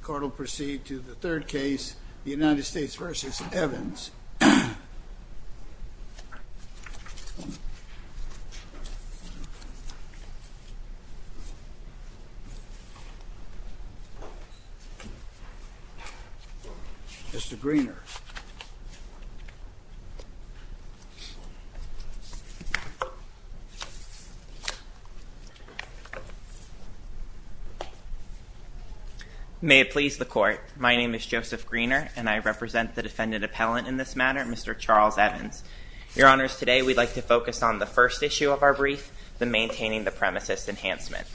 The court will proceed to the third case, the United States v. Evans. Mr. Greener May it please the court, my name is Joseph Greener and I represent the defendant appellant in this matter, Mr. Charles Evans. Your honors, today we'd like to focus on the first issue of our brief, the maintaining the premises enhancement.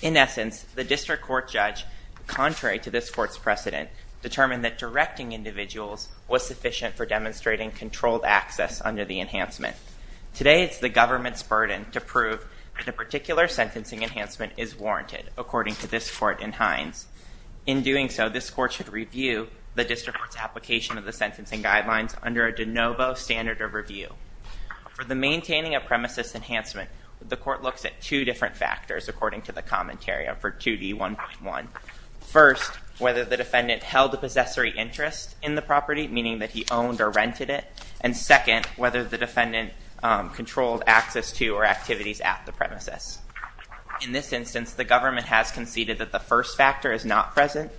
In essence, the district court judge, contrary to this court's precedent, determined that directing individuals was sufficient for demonstrating controlled access under the enhancement. Today, it's the government's burden to prove that a particular sentencing enhancement is warranted, according to this court in Hines. In doing so, this court should review the district court's application of the sentencing guidelines under a de novo standard of review. For the maintaining a premises enhancement, the court looks at two different factors, according to the commentary for 2D1.1. First, whether the defendant held a possessory interest in the property, meaning that he owned or rented it. And second, whether the defendant controlled access to or activities at the premises. In this instance, the government has conceded that the first factor is not present.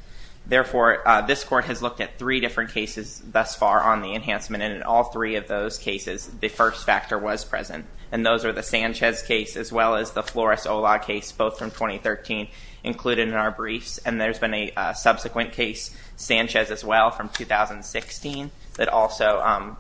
Therefore, this court has looked at three different cases thus far on the enhancement, and in all three of those cases, the first factor was present. And those are the Sanchez case, as well as the Flores-Ola case, both from 2013, included in our briefs. And there's been a subsequent case, Sanchez as well, from 2016, that also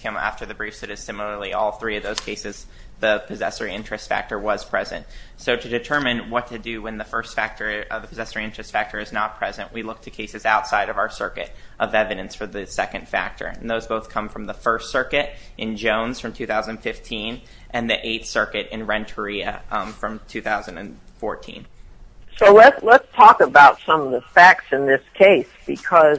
came after the briefs. So just similarly, all three of those cases, the possessory interest factor was present. So to determine what to do when the first factor of the possessory interest factor is not present, we look to cases outside of our circuit of evidence for the second factor. And those both come from the First Circuit in Jones from 2015, and the Eighth Circuit in Renteria from 2014. So let's talk about some of the facts in this case, because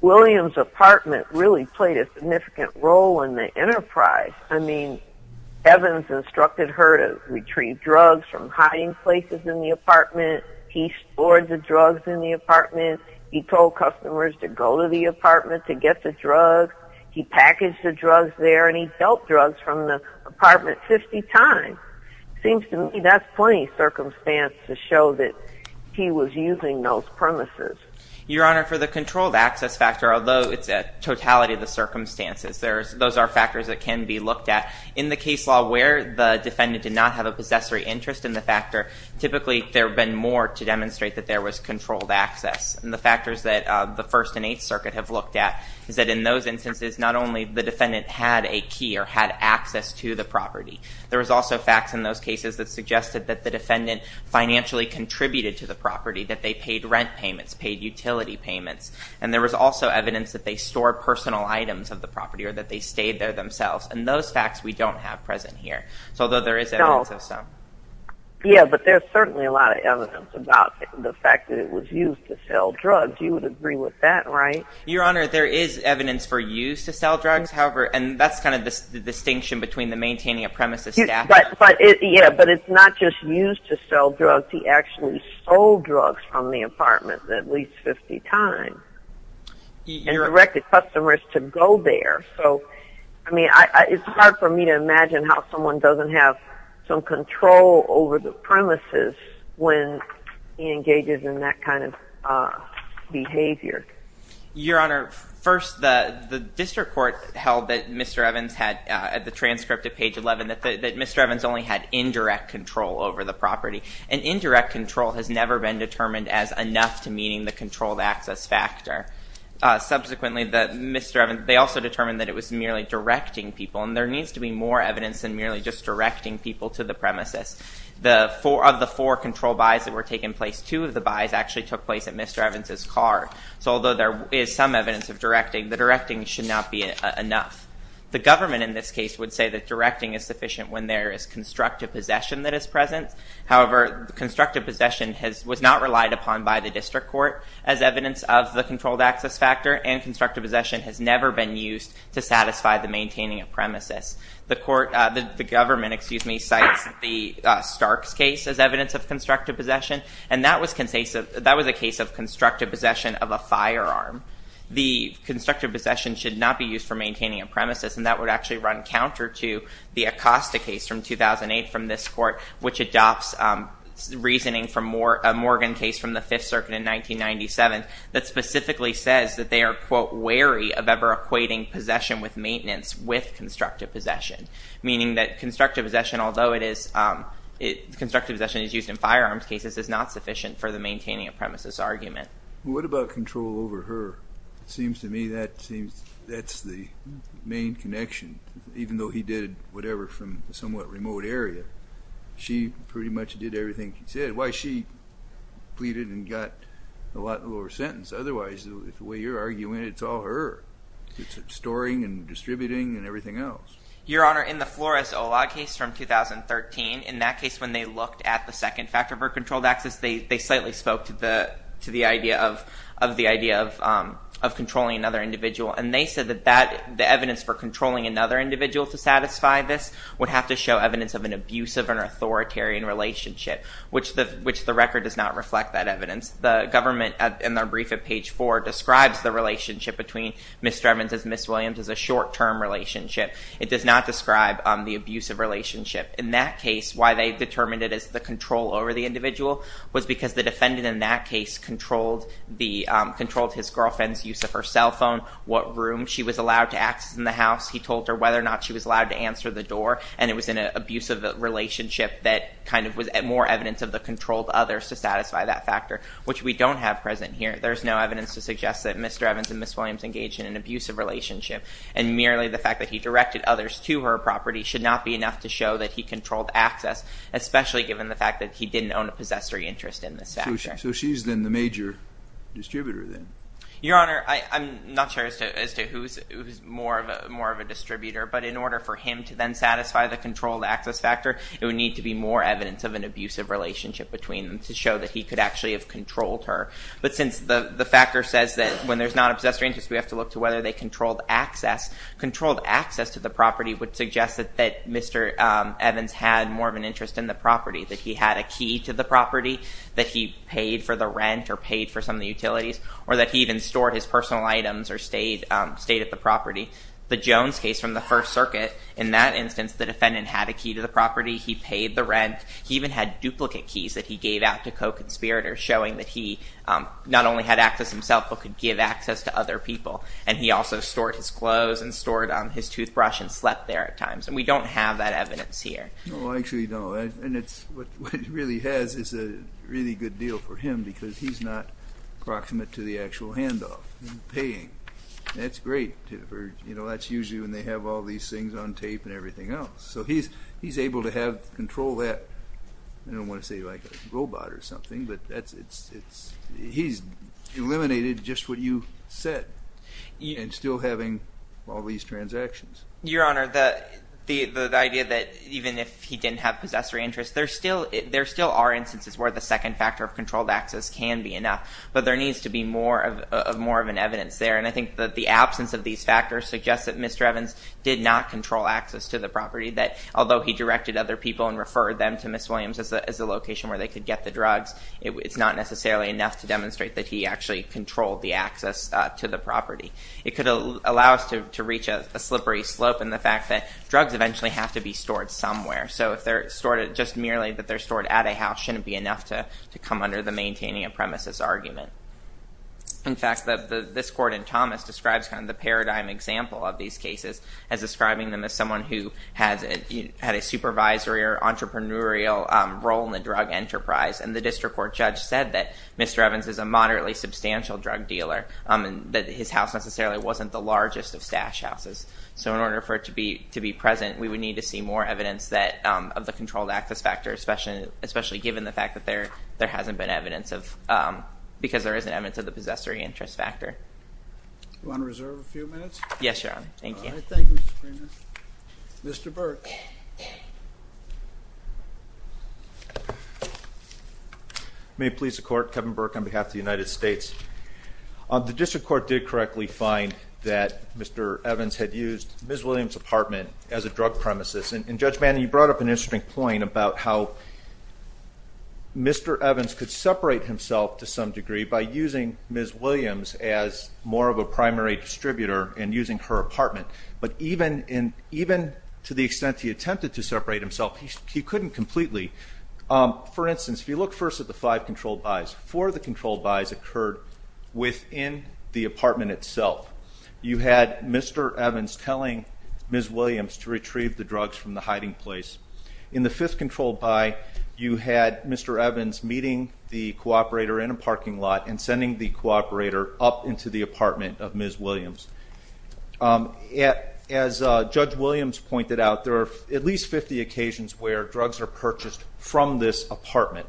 William's apartment really played a significant role in the enterprise. I mean, Evans instructed her to retrieve drugs from hiding places in the apartment. He stored the drugs in the apartment. He told customers to go to the apartment to get the drugs. He packaged the drugs there, and he dealt drugs from the apartment 50 times. Seems to me that's plenty of circumstance to show that he was using those premises. Your Honor, for the controlled access factor, although it's a totality of the circumstances, those are factors that can be looked at. In the case law where the defendant did not have a possessory interest in the factor, typically there have been more to demonstrate that there was controlled access. And the factors that the First and Eighth Circuit have looked at is that in those instances, not only the defendant had a key or had access to the property, there was also facts in those cases that suggested that the defendant financially contributed to the property, that they paid rent payments, paid utility payments, and there was also evidence that they stored personal items of the property or that they stayed there themselves. And those facts we don't have present here, although there is evidence of some. Yeah, but there's certainly a lot of evidence about the fact that it was used to sell drugs. You would agree with that, right? Your Honor, there is evidence for use to sell drugs. However, and that's kind of the distinction between the maintaining a premises staffer. Yeah, but it's not just used to sell drugs. He actually sold drugs from the apartment at least 50 times and directed customers to go there. So, I mean, it's hard for me to imagine how someone doesn't have some control over the premises when he engages in that kind of behavior. Your Honor, first, the district court held that Mr. Evans had, at the transcript at page 11, that Mr. Evans only had indirect control over the property. And indirect control has never been determined as enough to meeting the controlled access factor. Subsequently, they also determined that it was merely directing people, and there needs to be more evidence than merely just directing people to the premises. Of the four control buys that were taking place, two of the buys actually took place at Mr. Evans' car. So although there is some evidence of directing, the directing should not be enough. The government in this case would say that directing is sufficient when there is constructive possession that is present. However, constructive possession was not relied upon by the district court as evidence of the controlled access factor, and constructive possession has never been used to satisfy the maintaining of premises. The government, excuse me, cites the Starks case as evidence of constructive possession, and that was a case of constructive possession of a firearm. The constructive possession should not be used for maintaining a premises, and that would actually run counter to the Acosta case from 2008 from this court, which adopts reasoning from a Morgan case from the Fifth Circuit in 1997 that specifically says that they are, quote, wary of ever equating possession with maintenance with constructive possession, meaning that constructive possession, although it is constructive possession is used in firearms cases, is not sufficient for the maintaining of premises argument. Well, what about control over her? It seems to me that that's the main connection. Even though he did whatever from a somewhat remote area, she pretty much did everything he said. Why she pleaded and got a lot lower sentence. Otherwise, the way you're arguing, it's all her. It's storing and distributing and everything else. Your Honor, in the Flores-Olag case from 2013, in that case when they looked at the second factor for controlled access, they slightly spoke to the idea of controlling another individual, and they said that the evidence for controlling another individual to satisfy this would have to show evidence of an abusive or authoritarian relationship, which the record does not reflect that evidence. The government, in their brief at page 4, describes the relationship between Ms. Strevins and Ms. Williams as a short-term relationship. It does not describe the abusive relationship. In that case, why they determined it as the control over the individual was because the defendant in that case controlled his girlfriend's use of her cell phone, what room she was allowed to access in the house. He told her whether or not she was allowed to answer the door, and it was an abusive relationship that kind of was more evidence of the controlled others to satisfy that factor, which we don't have present here. There's no evidence to suggest that Mr. Evans and Ms. Williams engaged in an abusive relationship, and merely the fact that he directed others to her property should not be enough to show that he controlled access, especially given the fact that he didn't own a possessory interest in this factor. So she's then the major distributor then? Your Honor, I'm not sure as to who's more of a distributor, but in order for him to then satisfy the controlled access factor, it would need to be more evidence of an abusive relationship between them to show that he could actually have controlled her. But since the factor says that when there's not a possessory interest, we have to look to whether they controlled access, controlled access to the property would suggest that Mr. Evans had more of an interest in the property, that he had a key to the property, that he paid for the rent or paid for some of the utilities, or that he even stored his personal items or stayed at the property. The Jones case from the First Circuit, in that instance, the defendant had a key to the property. He paid the rent. He even had duplicate keys that he gave out to co-conspirators showing that he not only had access himself, but could give access to other people. And he also stored his clothes and stored his toothbrush and slept there at times. And we don't have that evidence here. No, I actually don't. And what it really has is a really good deal for him because he's not proximate to the actual handoff and paying. That's great. That's usually when they have all these things on tape and everything else. So he's able to control that. I don't want to say like a robot or something, but he's eliminated just what you said and still having all these transactions. Your Honor, the idea that even if he didn't have possessory interest, there still are instances where the second factor of controlled access can be enough, but there needs to be more of an evidence there. And I think that the absence of these factors suggests that Mr. Evans did not control access to the property, that although he directed other people and referred them to Ms. Williams as a location where they could get the drugs, it's not necessarily enough to demonstrate that he actually controlled the access to the property. It could allow us to reach a slippery slope in the fact that drugs eventually have to be stored somewhere. So just merely that they're stored at a house shouldn't be enough to come under the maintaining a premises argument. In fact, this court in Thomas describes kind of the paradigm example of these cases as describing them as someone who had a supervisory or entrepreneurial role in the drug enterprise. And the district court judge said that Mr. Evans is a moderately substantial drug dealer and that his house necessarily wasn't the largest of stash houses. So in order for it to be present, we would need to see more evidence of the controlled access factor, especially given the fact that there hasn't been evidence of because there isn't evidence of the possessory interest factor. Do you want to reserve a few minutes? Yes, Your Honor. Thank you. All right. Thank you, Mr. Freeman. Mr. Burke. May it please the Court, Kevin Burke on behalf of the United States. The district court did correctly find that Mr. Evans had used Ms. Williams' apartment as a drug premises. And, Judge Bannon, you brought up an interesting point about how Mr. Evans could separate himself to some degree by using Ms. Williams as more of a primary distributor and using her apartment. But even to the extent he attempted to separate himself, he couldn't completely. For instance, if you look first at the five controlled buys, four of the controlled buys occurred within the apartment itself. You had Mr. Evans telling Ms. Williams to retrieve the drugs from the hiding place. In the fifth controlled buy, you had Mr. Evans meeting the cooperator in a parking lot and sending the cooperator up into the apartment of Ms. Williams. As Judge Williams pointed out, there are at least 50 occasions where drugs are purchased from this apartment.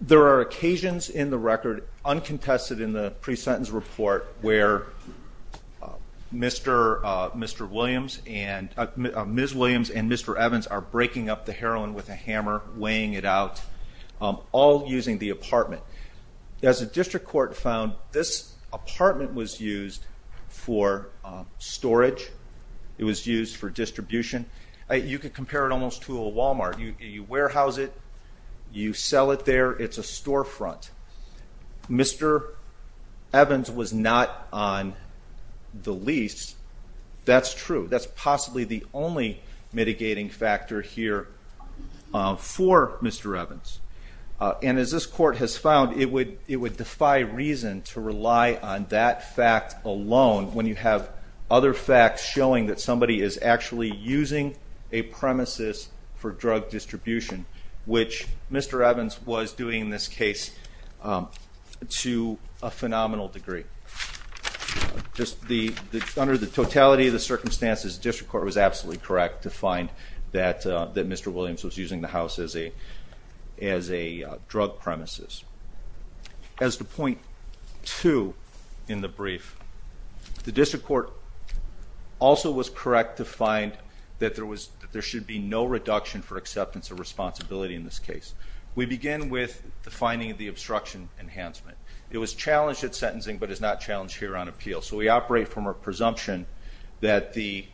There are occasions in the record, uncontested in the pre-sentence report, where Ms. Williams and Mr. Evans are breaking up the heroin with a hammer, weighing it out, all using the apartment. As the district court found, this apartment was used for storage. It was used for distribution. You could compare it almost to a Walmart. You warehouse it. You sell it there. It's a storefront. Mr. Evans was not on the lease. That's true. That's possibly the only mitigating factor here for Mr. Evans. And as this court has found, it would defy reason to rely on that fact alone when you have other facts showing that somebody is actually using a premises for drug distribution, which Mr. Evans was doing in this case to a phenomenal degree. Under the totality of the circumstances, the district court was absolutely correct to find that Mr. Williams was using the house as a drug premises. As to point two in the brief, the district court also was correct to find that there should be no reduction for acceptance of responsibility in this case. We begin with the finding of the obstruction enhancement. It was challenged at sentencing but is not challenged here on appeal. So we operate from a presumption that the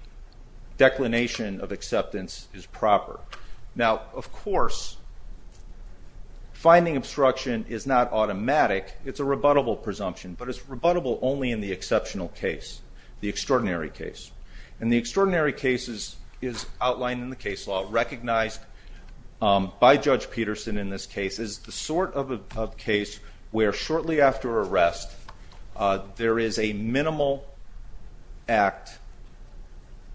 declination of acceptance is proper. Now, of course, finding obstruction is not automatic. It's a rebuttable presumption, but it's rebuttable only in the exceptional case, the extraordinary case. And the extraordinary case is outlined in the case law, recognized by Judge Peterson in this case. It's the sort of case where shortly after arrest there is a minimal act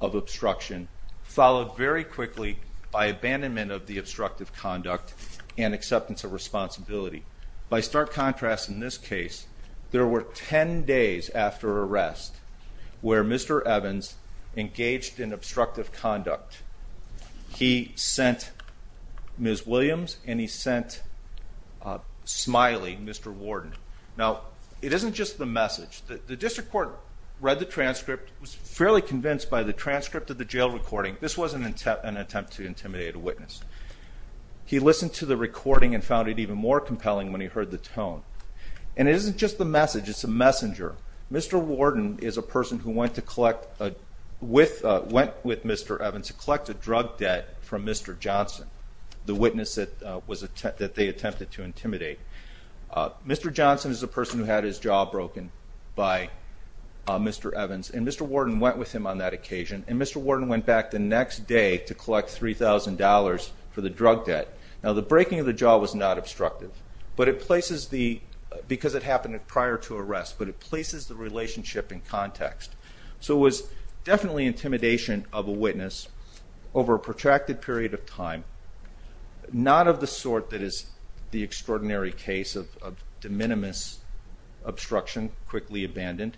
of obstruction, followed very quickly by abandonment of the obstructive conduct and acceptance of responsibility. By stark contrast in this case, there were 10 days after arrest where Mr. Evans engaged in obstructive conduct. He sent Ms. Williams and he sent Smiley, Mr. Warden. Now, it isn't just the message. The district court read the transcript, was fairly convinced by the transcript of the jail recording. This wasn't an attempt to intimidate a witness. He listened to the recording and found it even more compelling when he heard the tone. And it isn't just the message, it's a messenger. Mr. Warden is a person who went with Mr. Evans to collect a drug debt from Mr. Johnson, the witness that they attempted to intimidate. Mr. Johnson is a person who had his jaw broken by Mr. Evans, and Mr. Warden went with him on that occasion. And Mr. Warden went back the next day to collect $3,000 for the drug debt. Now, the breaking of the jaw was not obstructive because it happened prior to arrest, but it places the relationship in context. So it was definitely intimidation of a witness over a protracted period of time, not of the sort that is the extraordinary case of de minimis obstruction, quickly abandoned.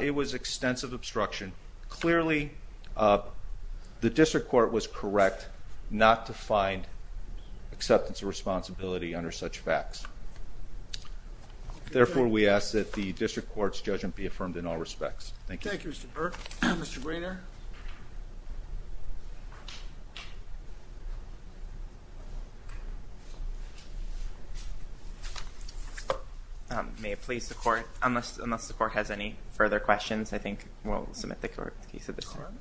It was extensive obstruction. Clearly, the district court was correct not to find acceptance of responsibility under such facts. Therefore, we ask that the district court's judgment be affirmed in all respects. Thank you. Thank you, Mr. Burke. Mr. Brainard. May it please the court, unless the court has any further questions, I think we'll submit the case at this time.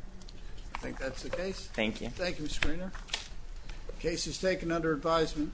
I think that's the case. Thank you. Thank you, Mr. Brainard. The case is taken under advisement.